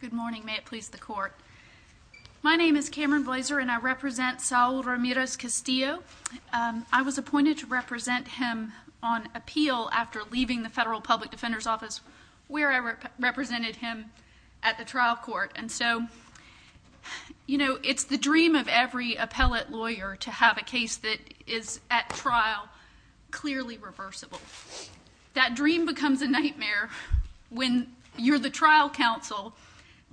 Good morning, may it please the court. My name is Cameron Blazer and I represent Saul Ramirez-Castillo. I was appointed to represent him on appeal after leaving the Federal Public Defender's Office where I represented him at the trial court. And so, you know, it's the dream of every appellate lawyer to have a case that is at trial clearly reversible. That dream becomes a nightmare when you're the trial counsel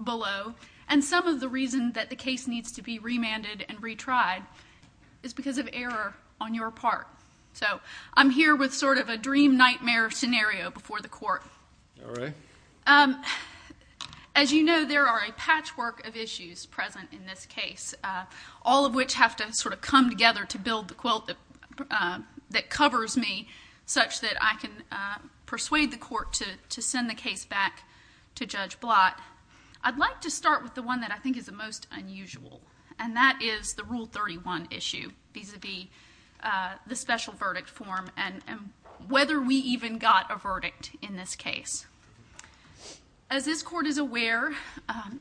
below and some of the reason that the case needs to be remanded and retried is because of error on your part. So, I'm here with sort of a dream nightmare scenario before the court. As you know, there are a patchwork of issues present in this case, all of which have to sort of come together to build the quilt that covers me such that I can persuade the court to send the case back to Judge Blott. I'd like to start with the one that I think is the most unusual and that is the Rule 31 issue vis-a-vis the special verdict form and whether we even got a verdict in this case. As this court is aware,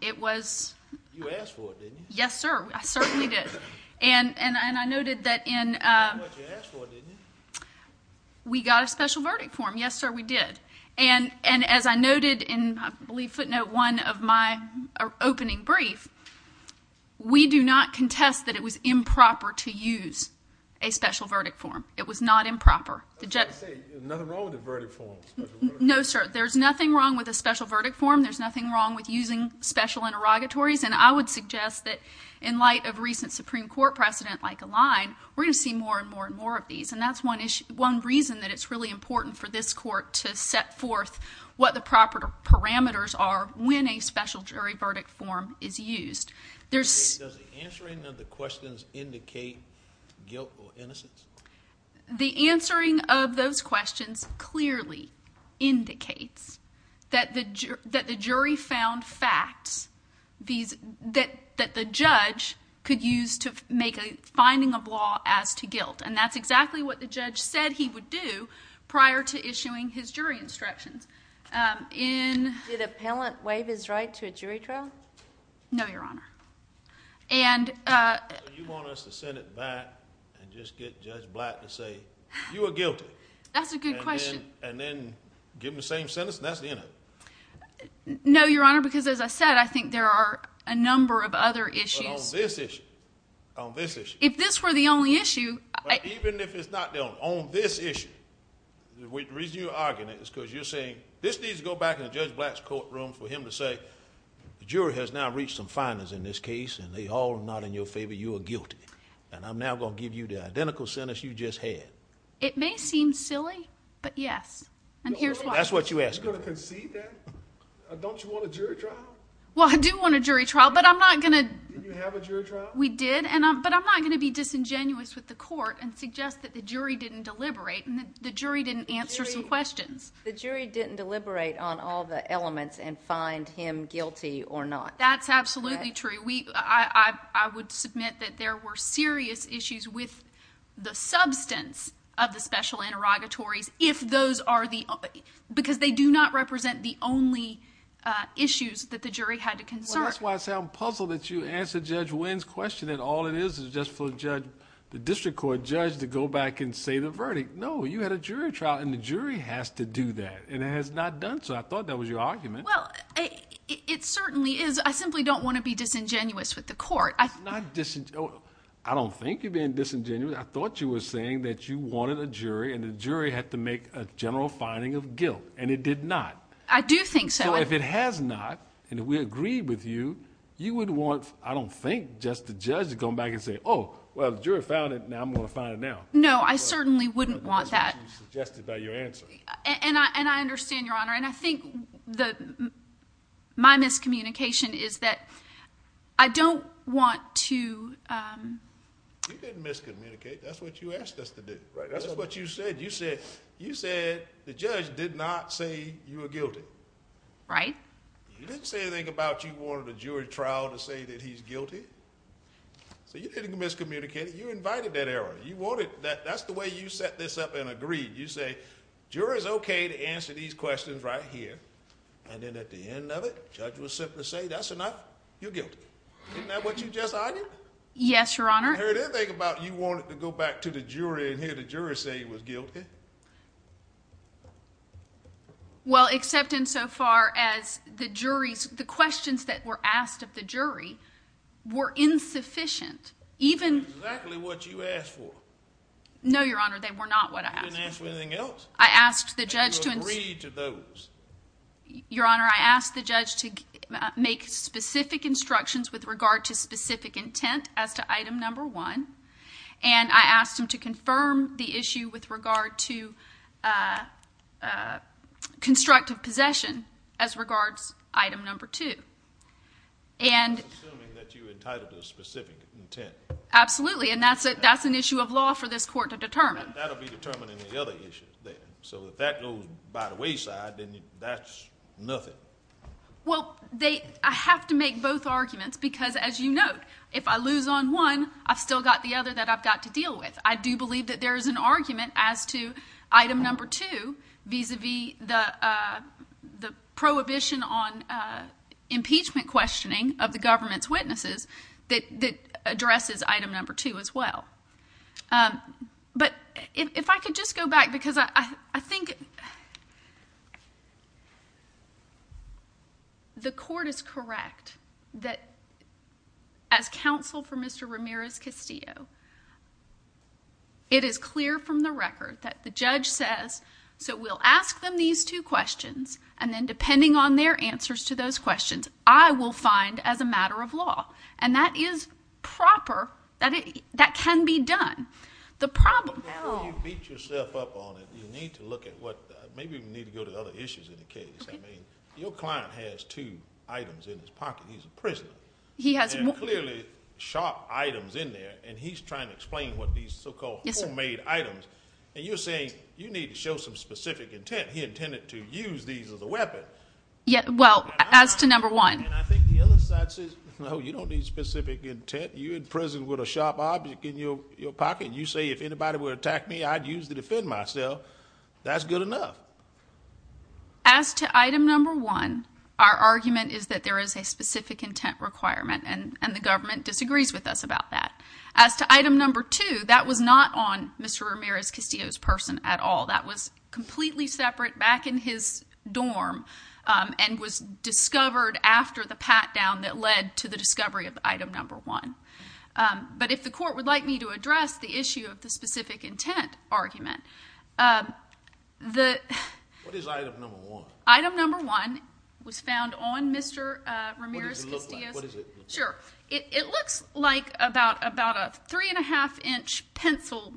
it was... You asked for it, didn't you? Yes, sir. I certainly did. And I noted that in... That's what you asked for, didn't you? We got a special verdict form. Yes, sir, we did. And as I noted in, I believe, footnote one of my opening brief, we do not contest that it was improper to use a special verdict form. It was not improper. Nothing wrong with the verdict form? No, sir. There's nothing wrong with a special verdict form. There's nothing wrong with using special interrogatories. And I would suggest that in light of recent Supreme Court precedent, like Align, we're going to see more and more and more of these. And that's one reason that it's really important for this court to set forth what the proper parameters are when a special jury verdict form is used. Does the answering of the questions indicate guilt or innocence? The answering of those questions clearly indicates that the jury found facts that the judge could use to make a finding of law as to guilt. And that's exactly what the judge said he would do prior to issuing his jury instructions. In... Did appellant waive his right to a jury trial? No, Your Honor. And... Do you want us to send it back and just get Judge Black to say, you are guilty? That's a good question. And then give him the same sentence, and that's the end of it? No, Your Honor, because as I said, I think there are a number of other issues. But on this issue, on this issue... If this were the only issue... Even if it's not the only, on this issue, the reason you're arguing it is because you're saying this needs to go back in Judge Black's courtroom for him to say, the jury has now reached some guilt. And I'm now going to give you the identical sentence you just had. It may seem silly, but yes. And here's why. That's what you asked me. You're going to concede that? Don't you want a jury trial? Well, I do want a jury trial, but I'm not going to... Did you have a jury trial? We did, but I'm not going to be disingenuous with the court and suggest that the jury didn't deliberate and the jury didn't answer some questions. The jury didn't deliberate on all the elements and find him guilty or not. That's absolutely true. I would submit that there were serious issues with the substance of the special interrogatories, if those are the... Because they do not represent the only issues that the jury had to concern. Well, that's why I sound puzzled that you answered Judge Wynn's question, that all it is is just for the district court judge to go back and say the verdict. No, you had a jury trial and the jury has to do that. And it has not done so. I thought that was your argument. Well, it certainly is. I simply don't want to be disingenuous with the court. It's not disingenuous. I don't think you're being disingenuous. I thought you were saying that you wanted a jury and the jury had to make a general finding of guilt, and it did not. I do think so. So if it has not, and if we agree with you, you would want, I don't think, just the judge to come back and say, oh, well, the jury found it, now I'm going to find it now. No, I certainly wouldn't want that. That's what you suggested by your answer. And I understand, Your Honor. And I think my miscommunication is that I don't want to... You didn't miscommunicate. That's what you asked us to do. That's what you said. You said the judge did not say you were guilty. Right. You didn't say anything about you wanted a jury trial to say that he's guilty. So you didn't miscommunicate. You invited that error. That's the way you set this up and agreed. You say, jury's okay to answer these questions right here. And then at the end of it, judge will simply say, that's enough. You're guilty. Isn't that what you just argued? Yes, Your Honor. I heard everything about you wanted to go back to the jury and hear the jury say he was guilty. Well, except insofar as the questions that were asked of the jury were insufficient. Exactly what you asked for. No, Your Honor. They were not what I asked for. You didn't ask for anything else. I asked the judge to... And you agreed to those. Your Honor, I asked the judge to make specific instructions with regard to specific intent as to item number one. And I asked him to confirm the issue with regard to constructive possession as regards item number two. And... I'm assuming that you entitled to specific intent. Absolutely. And that's an issue of law for this court to determine. That'll be determined in the other issue. So if that goes by the wayside, then that's nothing. Well, I have to make both arguments because as you note, if I lose on one, I've still got the other that I've got to deal with. I do believe that there is an argument as to item number two, vis-a-vis the prohibition on impeachment questioning of the government's witnesses that addresses item number two as well. But if I could just go back because I think... The court is correct that as counsel for Mr. Ramirez-Castillo, it is clear from the record that the judge says, so we'll ask them these two questions and then depending on their answers to those questions, I will find as a matter of law. And that is proper. That can be done. The problem... But before you beat yourself up on it, you need to look at what... Maybe we need to go to other issues in the case. I mean, your client has two items in his pocket. He's a prisoner. He has... And clearly sharp items in there. And he's trying to explain what these so-called homemade items. And you're saying you need to show some specific intent. He intended to use these as a weapon. Well, as to number one... And I think the other side says, no, you don't need specific intent. You're in prison with a sharp object in your pocket. You say, if anybody would attack me, I'd use to defend myself. That's good enough. As to item number one, our argument is that there is a specific intent requirement and the government disagrees with us about that. As to item number two, that was not on Mr. back in his dorm and was discovered after the pat down that led to the discovery of item number one. But if the court would like me to address the issue of the specific intent argument, the... What is item number one? Item number one was found on Mr. Ramirez-Castillo's... What does it look like? What is it? Sure. It looks like about a three and a half inch pencil,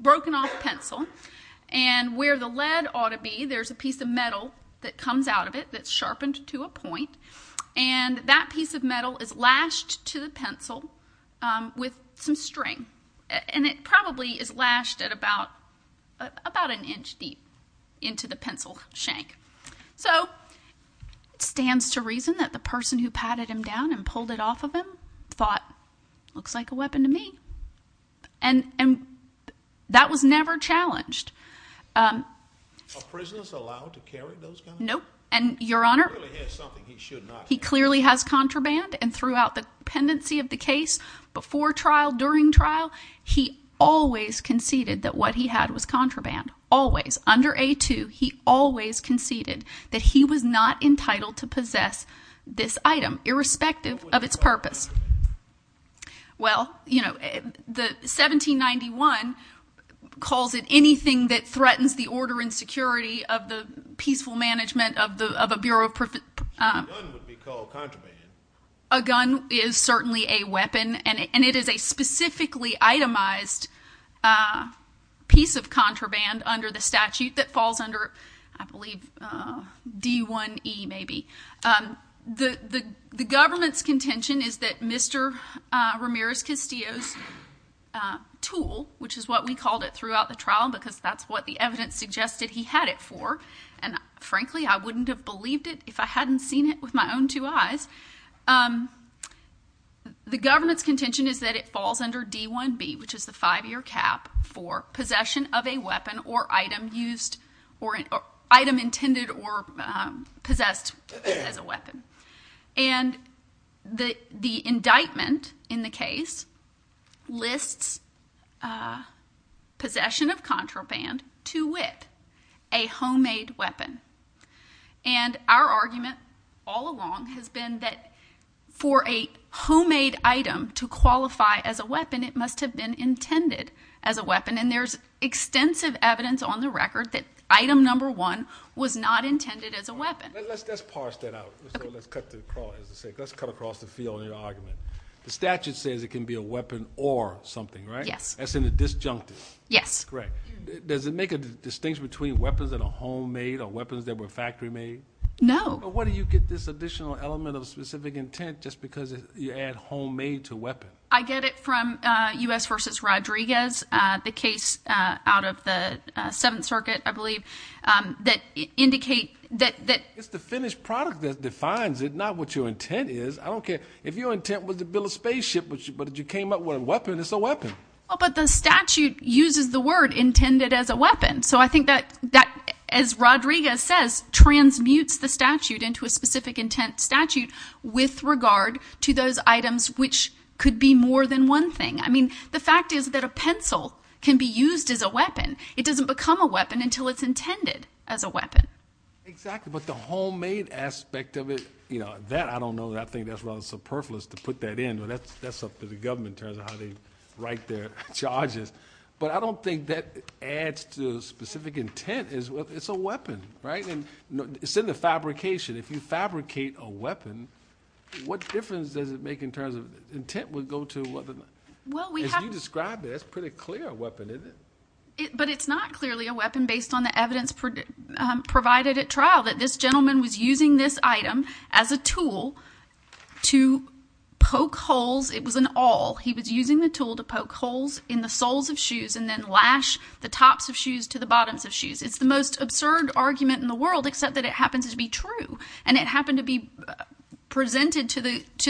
broken off pencil. And where the lead ought to be, there's a piece of metal that comes out of it that's sharpened to a point. And that piece of metal is lashed to the pencil with some string. And it probably is lashed at about an inch deep into the pencil shank. So it stands to reason that the person who patted him down and pulled it off of him thought, looks like a weapon to me. And that was never challenged. Are prisoners allowed to carry those guns? Nope. And your honor, he clearly has contraband and throughout the pendency of the case, before trial, during trial, he always conceded that what he had was contraband. Always. Under A2, he always conceded that he was not entitled to possess this item irrespective of its purpose. Well, you know, the 1791 calls it anything that threatens the order and security of the peaceful management of a Bureau of... A gun would be called contraband. A gun is certainly a weapon and it is a specifically itemized piece of contraband under the statute that falls under, I believe, D1E maybe. The government's contention is that Mr. Ramirez-Castillo's tool, which is what we called it throughout the trial because that's what the evidence suggested he had it for. And frankly, I wouldn't have believed it if I hadn't seen it with my own two eyes. The government's contention is that it falls under D1B, which is the five-year cap for possession of a weapon or item used or item intended or possessed as a weapon. And the indictment in the case lists possession of contraband to wit, a homemade weapon. And our argument all along has been that for a homemade item to qualify as a weapon, it must have been intended as a weapon. And there's extensive evidence on the record that item number one was not intended as a weapon. Let's parse that out. Let's cut across the field in your argument. The statute says it can be a weapon or something, right? Yes. That's in the disjunctive. Yes. Correct. Does it make a distinction between weapons that are homemade or weapons that were factory made? No. But where do you get this additional element of specific intent just because you add homemade to weapon? I get it from U.S. vs. Rodriguez, the case out of the Seventh Circuit, I believe, that indicate that- It's the finished product that defines it, not what your intent is. I don't care. If your intent was to build a spaceship, but you came up with a weapon, it's a weapon. But the statute uses the word intended as a weapon. So I think that, as Rodriguez says, transmutes the statute into a specific intent statute with regard to those items which could be more than one thing. I mean, the fact is that a pencil can be used as a weapon. It doesn't become a weapon until it's intended as a weapon. Exactly. But the homemade aspect of it, that, I don't know. I think that's rather superfluous to put that in. But that's up to the government in terms of how they write their charges. But I don't think that adds to specific intent. It's a weapon, right? And it's in the fabrication. If you fabricate a weapon, what difference does it make in terms of intent would go to a weapon? Well, we have- As you described it, that's a pretty clear weapon, isn't it? But it's not clearly a weapon based on the evidence provided at trial, that this gentleman was using this item as a tool to poke holes. It was an awl. He was using the tool to poke holes in the soles of shoes and then lash the tops of shoes to the bottoms of shoes. It's the most absurd argument in the world, except that it happens to be true. And it happened to be presented to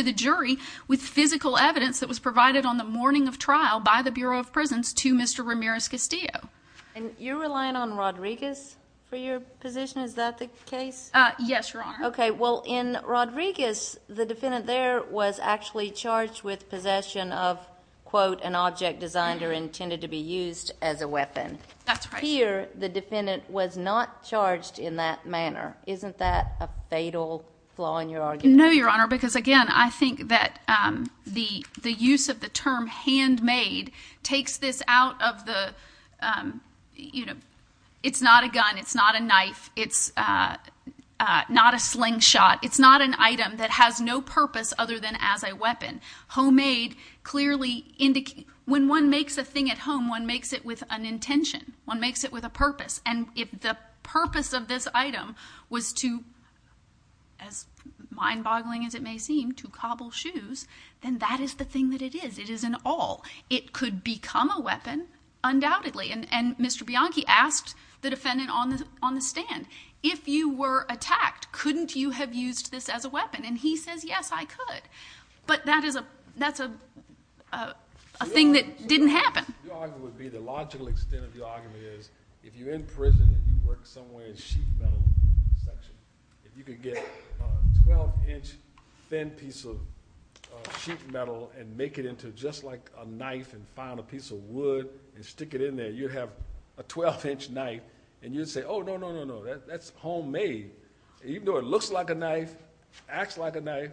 the jury with physical evidence that was provided on the morning of trial by the Bureau of Prisons to Mr. Ramirez Castillo. And you're relying on Rodriguez for your position? Is that the case? Yes, Your Honor. Okay. Well, in Rodriguez, the defendant there was actually charged with possession of, quote, an object designed or intended to be used as a weapon. That's right. Here, the defendant was not charged in that manner. Isn't that a fatal flaw in your argument? No, Your Honor, because again, I think that the use of the term handmade takes this out of the, you know, it's not a gun. It's not a knife. It's not a slingshot. It's not an item that has no purpose other than as a weapon. Homemade clearly indicates, when one makes a thing at home, one makes it with an intention. One makes it with a purpose. And if the purpose of this item was to, as mind-boggling as it may seem, to cobble shoes, then that is the thing that it is. It is an all. It could become a weapon undoubtedly. And Mr. Bianchi asked the defendant on the stand, if you were attacked, couldn't you have used this as a weapon? And he says, yes, I could. But that's a thing that didn't happen. Your argument would be, the logical extent of your argument is, if you're in prison and you work somewhere in sheet metal section, if you could get a 12-inch thin piece of sheet metal and make it into just like a knife and find a piece of wood and stick it in there, you'd have a 12-inch knife. And you'd say, oh, no, no, no, no. That's homemade. Even though it looks like a knife, acts like a knife,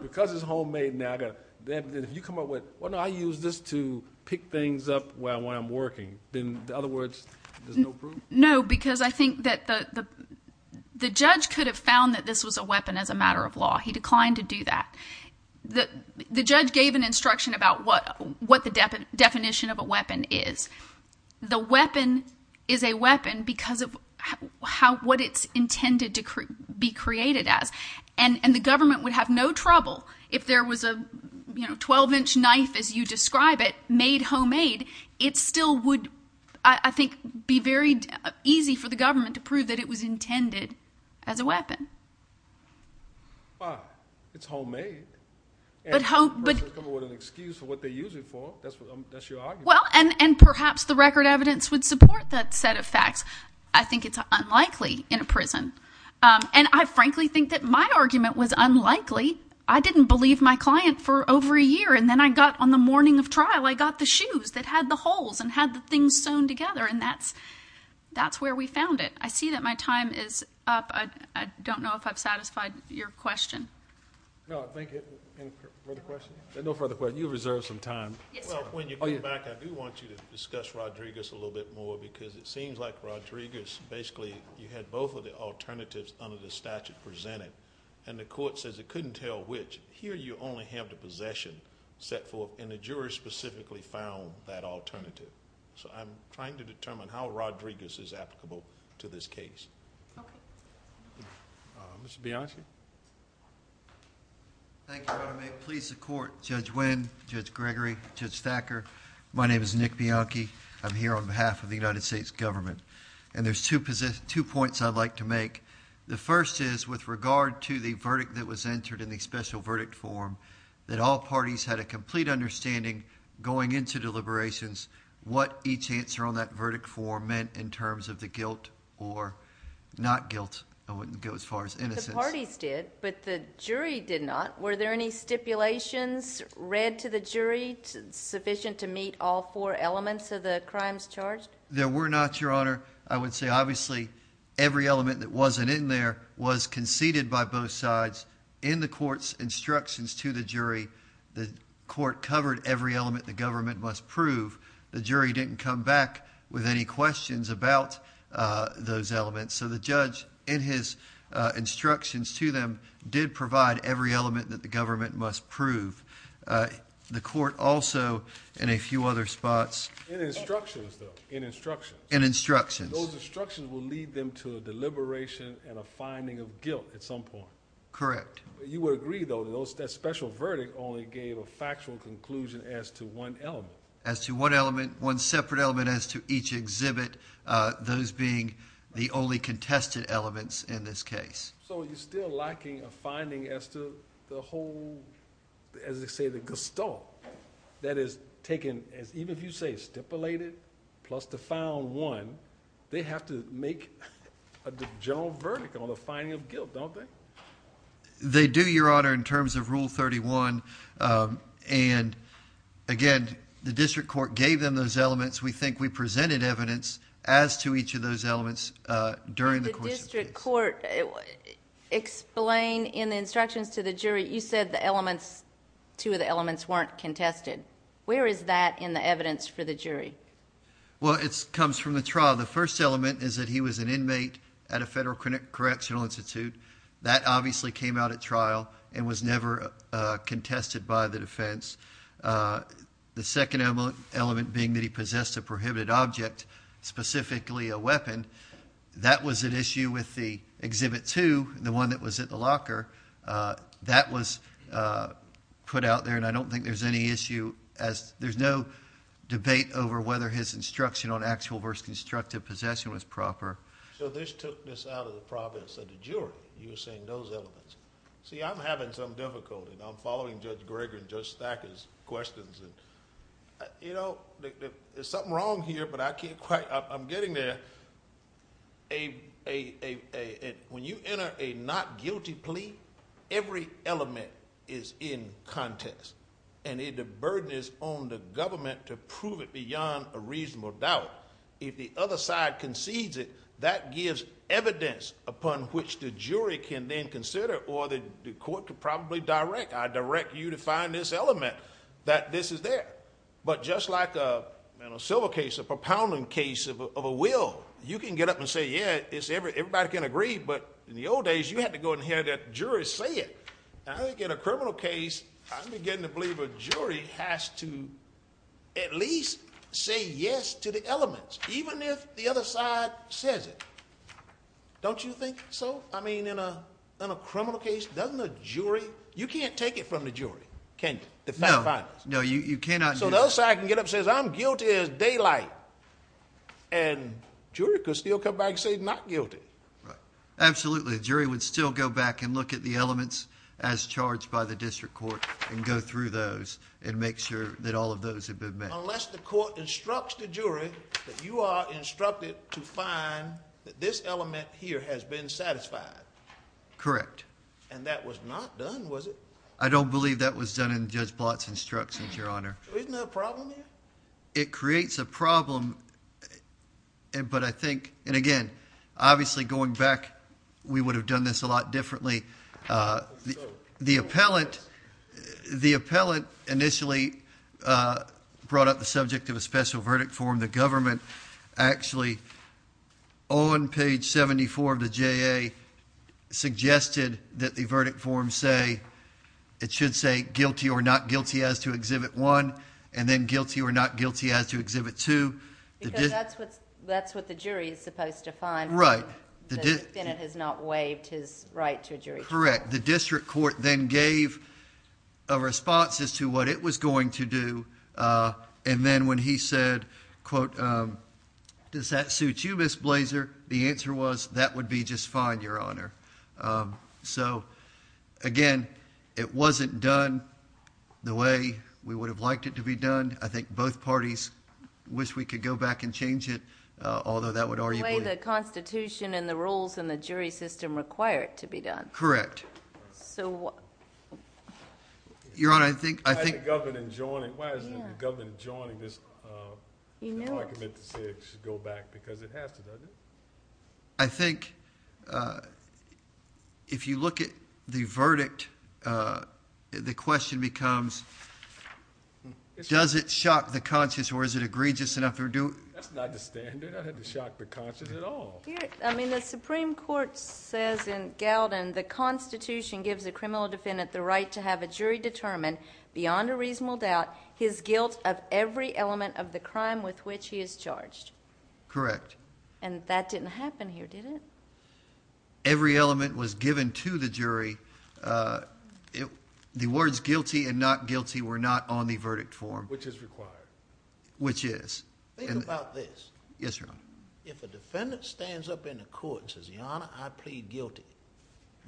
because it's homemade now, then if you come up with, well, no, I use this to pick things up when I'm working, then in other words, there's no proof? No, because I think that the judge could have found that this was a weapon as a matter of law. He declined to do that. The judge gave an instruction about what the definition of a weapon is. The weapon is a weapon because of what it's intended to be created as. And the government would have no trouble if there was a 12-inch knife, as you describe it, made homemade. It still would, I think, be very easy for the government to prove that it was intended as a weapon. But it's homemade. And the person's coming with an excuse for what they use it for. That's your argument. Well, and perhaps the record evidence would support that set of facts. I think it's unlikely in a prison. And I frankly think that my argument was unlikely. I didn't believe my client for over a year. And then I got, on the morning of trial, I got the shoes that had the holes and had the things sewn together. And that's where we found it. I see that my time is up. I don't know if I've satisfied your question. No, I think it, any further questions? No further questions. You reserved some time. Yes, sir. Well, when you come back, I do want you to discuss Rodriguez a little bit more because it seems like Rodriguez, basically, you had both of the alternatives under the statute presented. And the court says it couldn't tell which. Here, you only have the possession set forth. And the jurors specifically found that alternative. So I'm trying to determine how Rodriguez is applicable to this case. Mr. Bianchi? Thank you, Your Honor. May it please the court. Judge Winn, Judge Gregory, Judge Thacker, my name is Nick Bianchi. I'm here on behalf of the United States government. And there's two points I'd like to make. The first is, with regard to the verdict that was entered in the special verdict form, that all parties had a complete understanding, going into deliberations, what each answer on that verdict form meant in terms of the guilt or not guilt. I wouldn't go as far as innocence. The parties did, but the jury did not. Were there any stipulations read to the jury sufficient to meet all four elements of the crimes charged? There were not, Your Honor. I would say, obviously, every element that wasn't in there was conceded by both sides in the court's instructions to the jury. The court covered every element the government must prove. The jury didn't come back with any questions about those elements. So the judge, in his instructions to them, did provide every element that the government must prove. The court also, in a few other spots... In instructions, though. In instructions. In instructions. Those instructions will lead them to a deliberation and a finding of guilt at some point. Correct. You would agree, though, that that special verdict only gave a factual conclusion as to one element. As to one element. As to each exhibit. Those being the only contested elements in this case. So you're still lacking a finding as to the whole, as they say, the gestalt. That is taken... Even if you say stipulated plus the found one, they have to make a general verdict on the finding of guilt, don't they? They do, Your Honor, in terms of Rule 31. And, again, the district court gave them those elements. We think we presented evidence as to each of those elements during the course of this. Did the district court explain in the instructions to the jury... You said the elements, two of the elements, weren't contested. Where is that in the evidence for the jury? Well, it comes from the trial. The first element is that he was an inmate at a federal correctional institute. That obviously came out at trial and was never contested by the defense. The second element being that he possessed a prohibited object, specifically a weapon. That was an issue with the Exhibit 2, the one that was at the locker. That was put out there, and I don't think there's any issue as... There's no debate over whether his instruction on actual versus constructive possession was proper. So this took this out of the province of the jury. You were saying those elements. See, I'm having some difficulty. I'm following Judge Greger and Judge Thacker's questions. You know, there's something wrong here, but I can't quite... I'm getting there. When you enter a not guilty plea, every element is in contest, and the burden is on the government to prove it beyond a reasonable doubt. If the other side concedes it, that gives evidence upon which the jury can then consider, or the court could probably direct. I direct you to find this element, that this is there. But just like in a silver case, a propounding case of a will, you can get up and say, yeah, everybody can agree, but in the old days, you had to go and hear that jury say it. I think in a criminal case, I'm beginning to believe a jury has to at least say yes to the elements, even if the other side says it. Don't you think so? I mean, in a criminal case, doesn't a jury... you can't take it from the jury, can you, the fact finders? No, you cannot. So the other side can get up and say, I'm guilty as daylight, and the jury could still come back and say, not guilty. Right. Absolutely. The jury would still go back and look at the elements as charged by the district court and go through those and make sure that all of those have been met. Unless the court instructs the jury that you are instructed to find that this element here has been satisfied. Correct. And that was not done, was it? I don't believe that was done in Judge Blatt's instructions, Your Honor. Isn't that a problem there? It creates a problem, but I think... and again, obviously going back, we would have done this a lot differently. The appellant initially brought up the subject of a special verdict form. The government actually, on page 74 of the JA, suggested that the verdict form say... it should say guilty or not guilty as to Exhibit 1, and then guilty or not guilty as to Exhibit 2. Because that's what the jury is supposed to find. Right. The defendant has not waived his right to a jury trial. Correct. The district court then gave a response as to what it was going to do, and then when he said, quote, does that suit you, Ms. Blazer, the answer was, that would be just fine, Your Honor. So again, it wasn't done the way we would have liked it to be done. I think both parties wish we could go back and change it, although that would arguably... The way the Constitution and the rules in the jury system require it to be done. Correct. So... Your Honor, I think... Why isn't the government joining this argument to say it should go back? Because it has to, doesn't it? I think if you look at the verdict, the question becomes, does it shock the conscience or is it egregious enough to do it? That's not the standard. I don't have to shock the conscience at all. I mean, the Supreme Court says in Galden, the Constitution gives a criminal defendant the right to have a jury determine, beyond a reasonable doubt, his guilt of every element of the crime with which he is charged. Correct. And that didn't happen here, did it? Every element was given to the jury. The words guilty and not guilty were not on the verdict form. Which is required. Which is. Think about this. Yes, Your Honor. If a defendant stands up in a court and says, Your Honor, I plead guilty,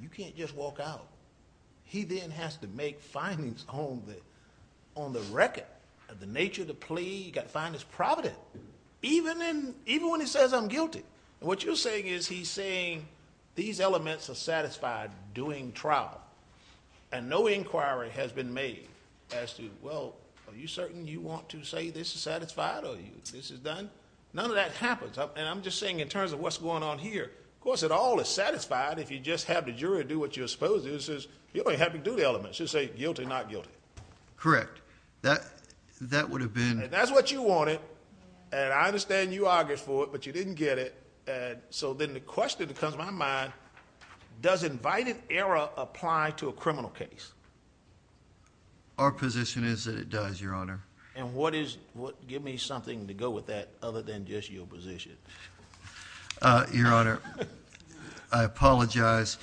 you can't just walk out, he then has to make findings on the record of the nature of the plea. He's got to find his providence. Even when he says, I'm guilty. What you're saying is he's saying these elements are satisfied doing trial. And no inquiry has been made as to, well, are you certain you want to say this is satisfied or this is done? None of that happens. And I'm just saying in terms of what's going on here. Of course, it all is satisfied if you just have the jury do what you're supposed to do. It says you only have to do the elements. You say guilty, not guilty. Correct. That would have been. That's what you wanted. And I understand you argued for it, but you didn't get it. And so then the question that comes to my mind, does invited error apply to a criminal case? Our position is that it does, Your Honor. And what is, give me something to go with that other than just your position. Your Honor, I apologize.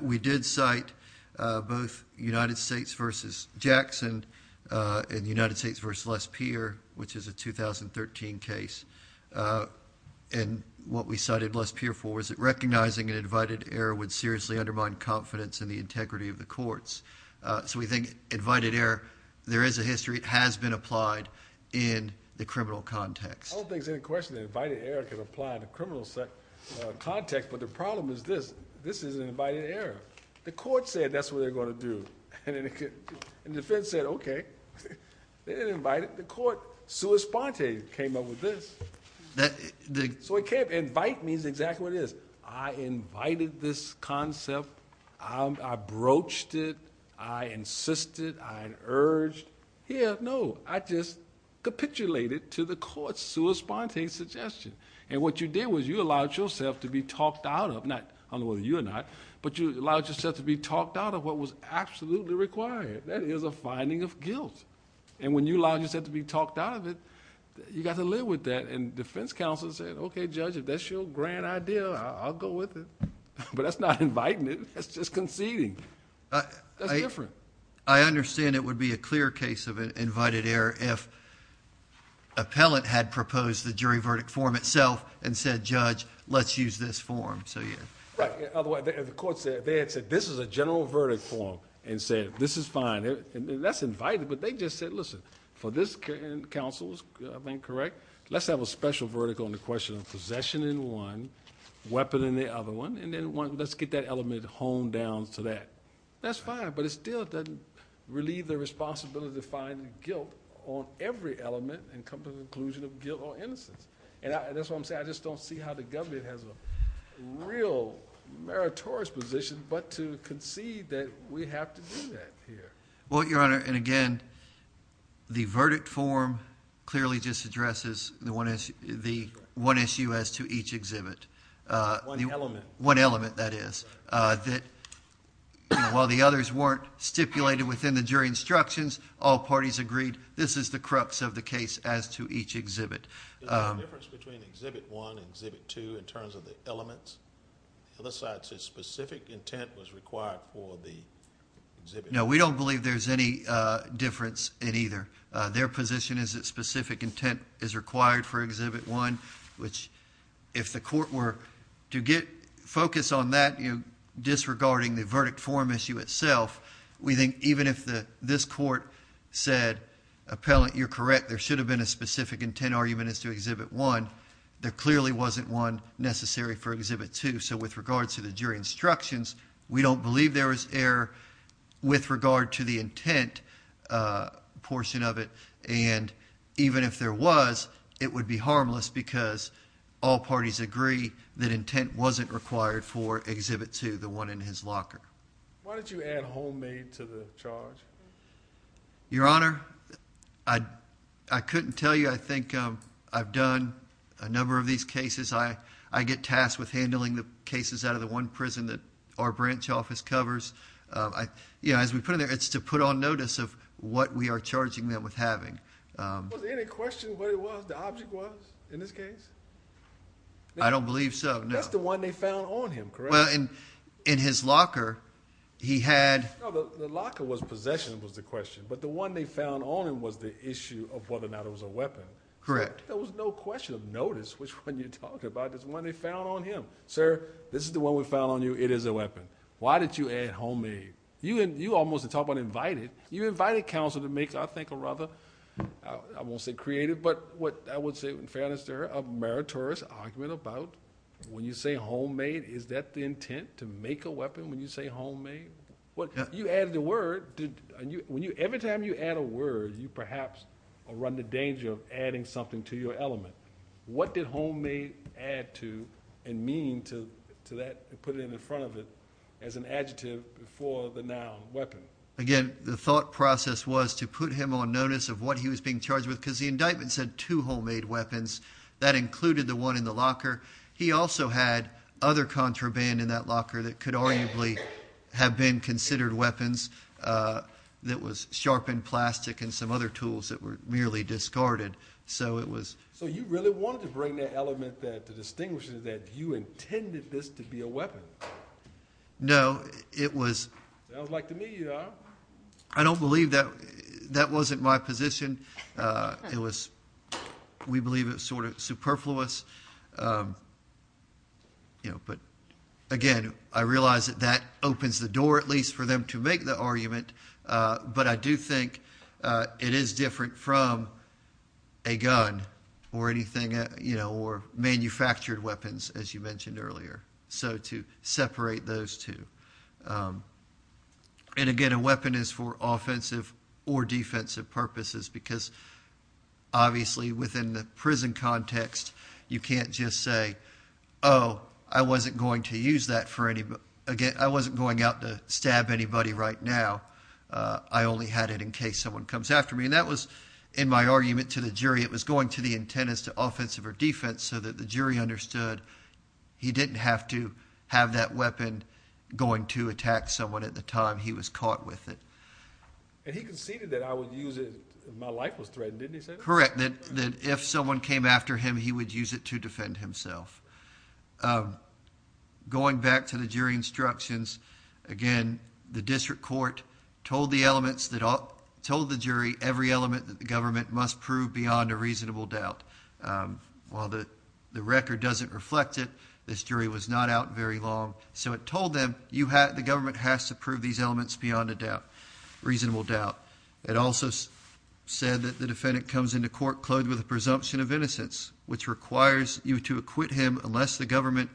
We did cite both United States versus Jackson and United States versus Les Peer, which is a 2013 case. And what we cited Les Peer for was that recognizing an invited error would seriously undermine confidence in the integrity of the courts. So we think invited error, there is a history. It has been applied in the criminal context. I don't think it's any question that invited error can apply in the criminal context, but the problem is this. This is an invited error. The court said that's what they're going to do. And defense said, okay. They didn't invite it. The court, sua sponte, came up with this. So it can't, invite means exactly what it is. I invited this concept. I broached it. I insisted. I urged. Here, no. I just capitulated to the court's sua sponte suggestion. And what you did was you allowed yourself to be talked out of, not I don't know whether you or not, but you allowed yourself to be talked out of what was absolutely required. That is a finding of guilt. And when you allowed yourself to be talked out of it, you got to live with that. And defense counsel said, okay, Judge, if that's your grand idea, I'll go with it. But that's not inviting it. That's just conceding. That's different. I understand it would be a clear case of invited error if appellant had proposed the jury verdict form itself and said, Judge, let's use this form. So, yeah. Right. Otherwise, the court said, they had said, this is a general verdict form. And said, this is fine. That's invited. But they just said, listen, for this counsel, if I'm correct, let's have a special verdict on the question of possession in one, weapon in the other one. And then let's get that element honed down to that. That's fine. But it still doesn't relieve the responsibility to find guilt on every element and come to the conclusion of guilt or innocence. And that's what I'm saying. I just don't see how the government has a real meritorious position but to concede that we have to do that here. Well, Your Honor, and again, the verdict form clearly just addresses the one issue as to each exhibit. One element. One element, that is. That while the others weren't stipulated within the jury instructions, all parties agreed, this is the crux of the case as to each exhibit. Is there a difference between exhibit one and exhibit two in terms of the elements? The other side says specific intent was required for the exhibit. No, we don't believe there's any difference in either. Their position is that specific intent is required for exhibit one, which if the court to focus on that, you know, disregarding the verdict form issue itself, we think even if this court said, appellant, you're correct, there should have been a specific intent argument as to exhibit one, there clearly wasn't one necessary for exhibit two. So with regards to the jury instructions, we don't believe there was error with regard to the intent portion of it. And even if there was, it would be harmless because all parties agree that intent wasn't required for exhibit two, the one in his locker. Why did you add homemade to the charge? Your Honor, I couldn't tell you. I think I've done a number of these cases. I get tasked with handling the cases out of the one prison that our branch office covers. You know, as we put in there, it's to put on notice of what we are charging them with having. Was there any question of what it was, the object was in this case? I don't believe so. That's the one they found on him, correct? Well, in his locker, he had... No, the locker was possession was the question, but the one they found on him was the issue of whether or not it was a weapon. Correct. There was no question of notice, which one you're talking about. It's the one they found on him. Sir, this is the one we found on you. It is a weapon. Why did you add homemade? You almost talked about invited. You invited counsel to make, I think, a rather, I won't say creative, but what I would say in fairness there, a meritorious argument about when you say homemade, is that the intent to make a weapon when you say homemade? When you add the word, every time you add a word, you perhaps run the danger of adding something to your element. What did homemade add to and mean to that and put it in the front of it as an adjective for the noun weapon? Again, the thought process was to put him on notice of what he was being charged with because the indictment said two homemade weapons. That included the one in the locker. He also had other contraband in that locker that could arguably have been considered weapons that was sharpened plastic and some other tools that were merely discarded. So it was- So you really wanted to bring that element there to distinguish that you intended this to be a weapon? No, it was- I would like to meet you, though. I don't believe that. That wasn't my position. It was, we believe it was sort of superfluous. But again, I realize that that opens the door, at least for them to make the argument. But I do think it is different from a gun or anything, you know, or manufactured weapons, as you mentioned earlier. So to separate those two. And again, a weapon is for offensive or defensive purposes because obviously within the prison context, you can't just say, oh, I wasn't going to use that for anybody. Again, I wasn't going out to stab anybody right now. I only had it in case someone comes after me. And that was, in my argument to the jury, it was going to the intent is to offensive or defense so that the jury understood he didn't have to have that weapon going to attack someone at the time he was caught with it. And he conceded that I would use it if my life was threatened, didn't he, Senator? Correct, that if someone came after him, he would use it to defend himself. Going back to the jury instructions, again, the district court told the jury every element that the government must prove beyond a reasonable doubt. While the record doesn't reflect it, this jury was not out very long. So it told them the government has to prove these elements beyond a reasonable doubt. It also said that the defendant comes into court clothed with a presumption of innocence, which requires you to acquit him unless the government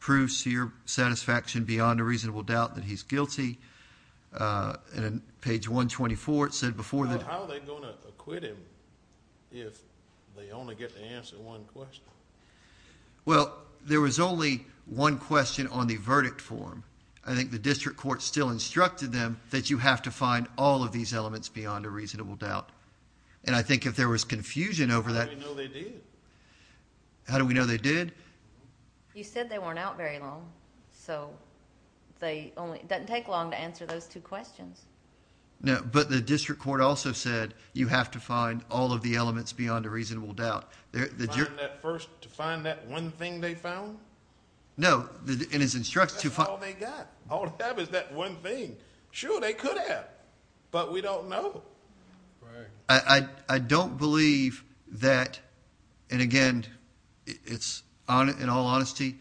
proves to your satisfaction beyond a reasonable doubt that he's guilty. And on page 124, it said before that... How are they going to acquit him if they only get to answer one question? Well, there was only one question on the verdict form. I think the district court still instructed them that you have to find all of these elements beyond a reasonable doubt. And I think if there was confusion over that... How do we know they did? How do we know they did? You said they weren't out very long. So it doesn't take long to answer those two questions. No, but the district court also said you have to find all of the elements beyond a reasonable doubt. First, to find that one thing they found? No, in his instructions... That's all they got. All they have is that one thing. Sure, they could have, but we don't know. Right. I don't believe that, and again, in all honesty,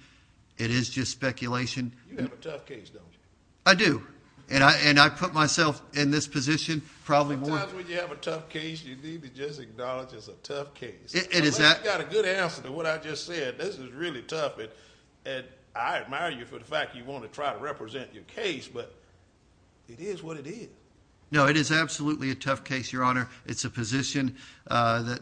it is just speculation. You have a tough case, don't you? I do, and I put myself in this position probably more... Sometimes when you have a tough case, you need to just acknowledge it's a tough case. Unless you've got a good answer to what I just said. This is really tough, and I admire you for the fact you want to try to represent your case, but it is what it is. No, it is absolutely a tough case, Your Honor. It's a position that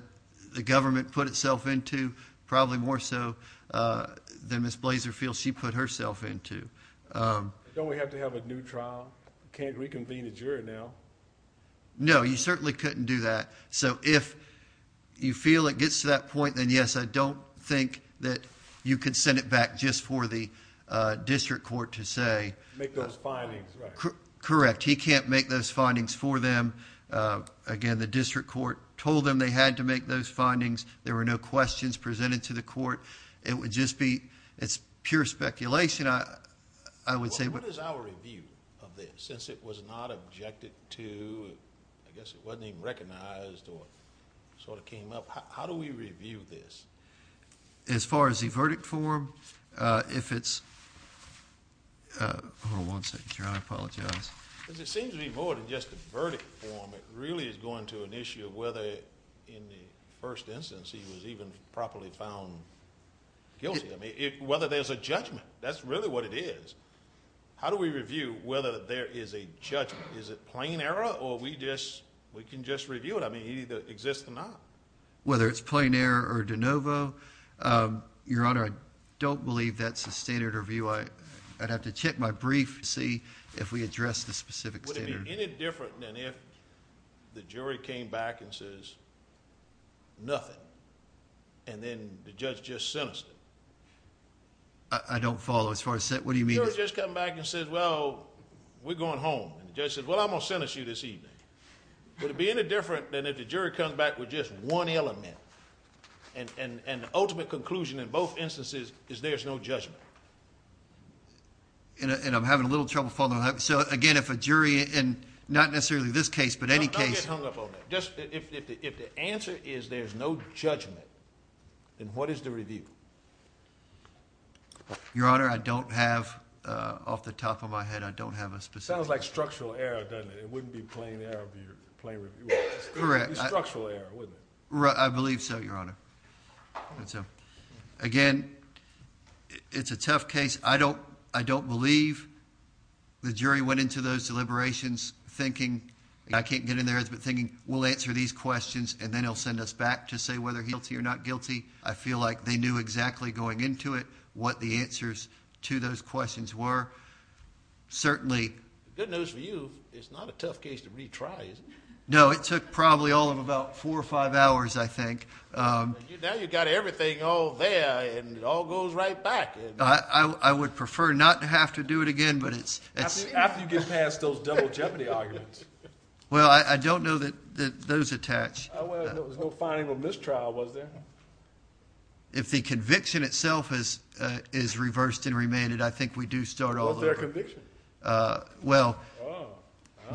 the government put itself into, probably more so than Ms. Blazer feels she put herself into. Don't we have to have a new trial? You can't reconvene a jury now. No, you certainly couldn't do that. So if you feel it gets to that point, then yes, I don't think that you could send it back just for the district court to say... Make those findings, right? Correct. He can't make those findings for them. Again, the district court told them they had to make those findings. There were no questions presented to the court. It would just be... it's pure speculation, I would say. What is our review of this? Since it was not objected to, I guess it wasn't even recognized or sort of came up, how do we review this? As far as the verdict form, if it's... Hold on one second, Your Honor. I apologize. It seems to be more than just a verdict form. It really is going to an issue of whether in the first instance he was even properly found guilty. I mean, whether there's a judgment. That's really what it is. How do we review whether there is a judgment? Is it plain error or we can just review it? I mean, it either exists or not. Whether it's plain error or de novo. Your Honor, I don't believe that's the standard review. I'd have to check my brief to see if we address the specific standard. Would it be any different than if the jury came back and says nothing and then the judge just sentenced him? I don't follow as far as... What do you mean? The jury just comes back and says, well, we're going home. The judge says, well, I'm going to sentence you this evening. Would it be any different than if the jury comes back with just one element and the ultimate conclusion in both instances is there's no judgment? And I'm having a little trouble following that. So again, if a jury and not necessarily this case but any case... I'll get hung up on that. Just if the answer is there's no judgment, then what is the review? Your Honor, I don't have off the top of my head. I don't have a specific... Sounds like structural error, doesn't it? It wouldn't be plain error if you're... Correct. It would be structural error, wouldn't it? I believe so, Your Honor. Again, it's a tough case. I don't believe the jury went into those deliberations thinking, I can't get in there, but thinking we'll answer these questions and then he'll send us back to say whether he's guilty or not guilty. I feel like they knew exactly going into it what the answers to those questions were. Certainly... Good news for you, it's not a tough case to retry, is it? No, it took probably all of about four or five hours, I think. Now you've got everything all there and it all goes right back. I would prefer not to have to do it again, but it's... After you get past those double jeopardy arguments. Well, I don't know that those attach. There was no finding of mistrial, was there? If the conviction itself is reversed and remanded, I think we do start all over. What's their conviction? Well,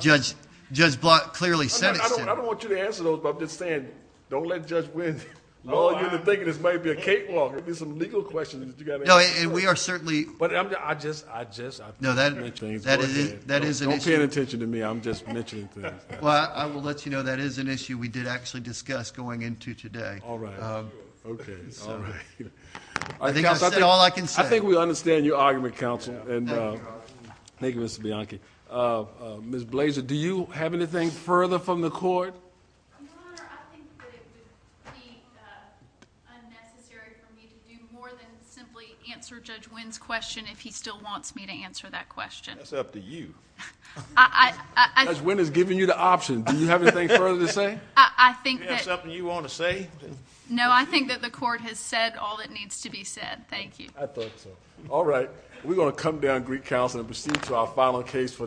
Judge Block clearly said it's... I don't want you to answer those, but I'm just saying, don't let Judge Wynn lull you into thinking this might be a cakewalk. There'll be some legal questions that you got to answer. No, and we are certainly... But I just... No, that is an issue... Don't pay any attention to me, I'm just mentioning things. Well, I will let you know that is an issue we did actually discuss going into today. All right. Okay. I think I've said all I can say. I think we understand your argument, counsel. Thank you, Mr. Bianchi. Ms. Blazer, do you have anything further from the court? Your Honor, I think that it would be unnecessary for me to do more than simply answer Judge Wynn's question if he still wants me to answer that question. That's up to you. Judge Wynn has given you the option. Do you have anything further to say? I think that... Do you have something you want to say? No, I think that the court has said all that needs to be said. Thank you. I thought so. All right. We're going to come down, Greek counsel, and proceed to our final case for the day.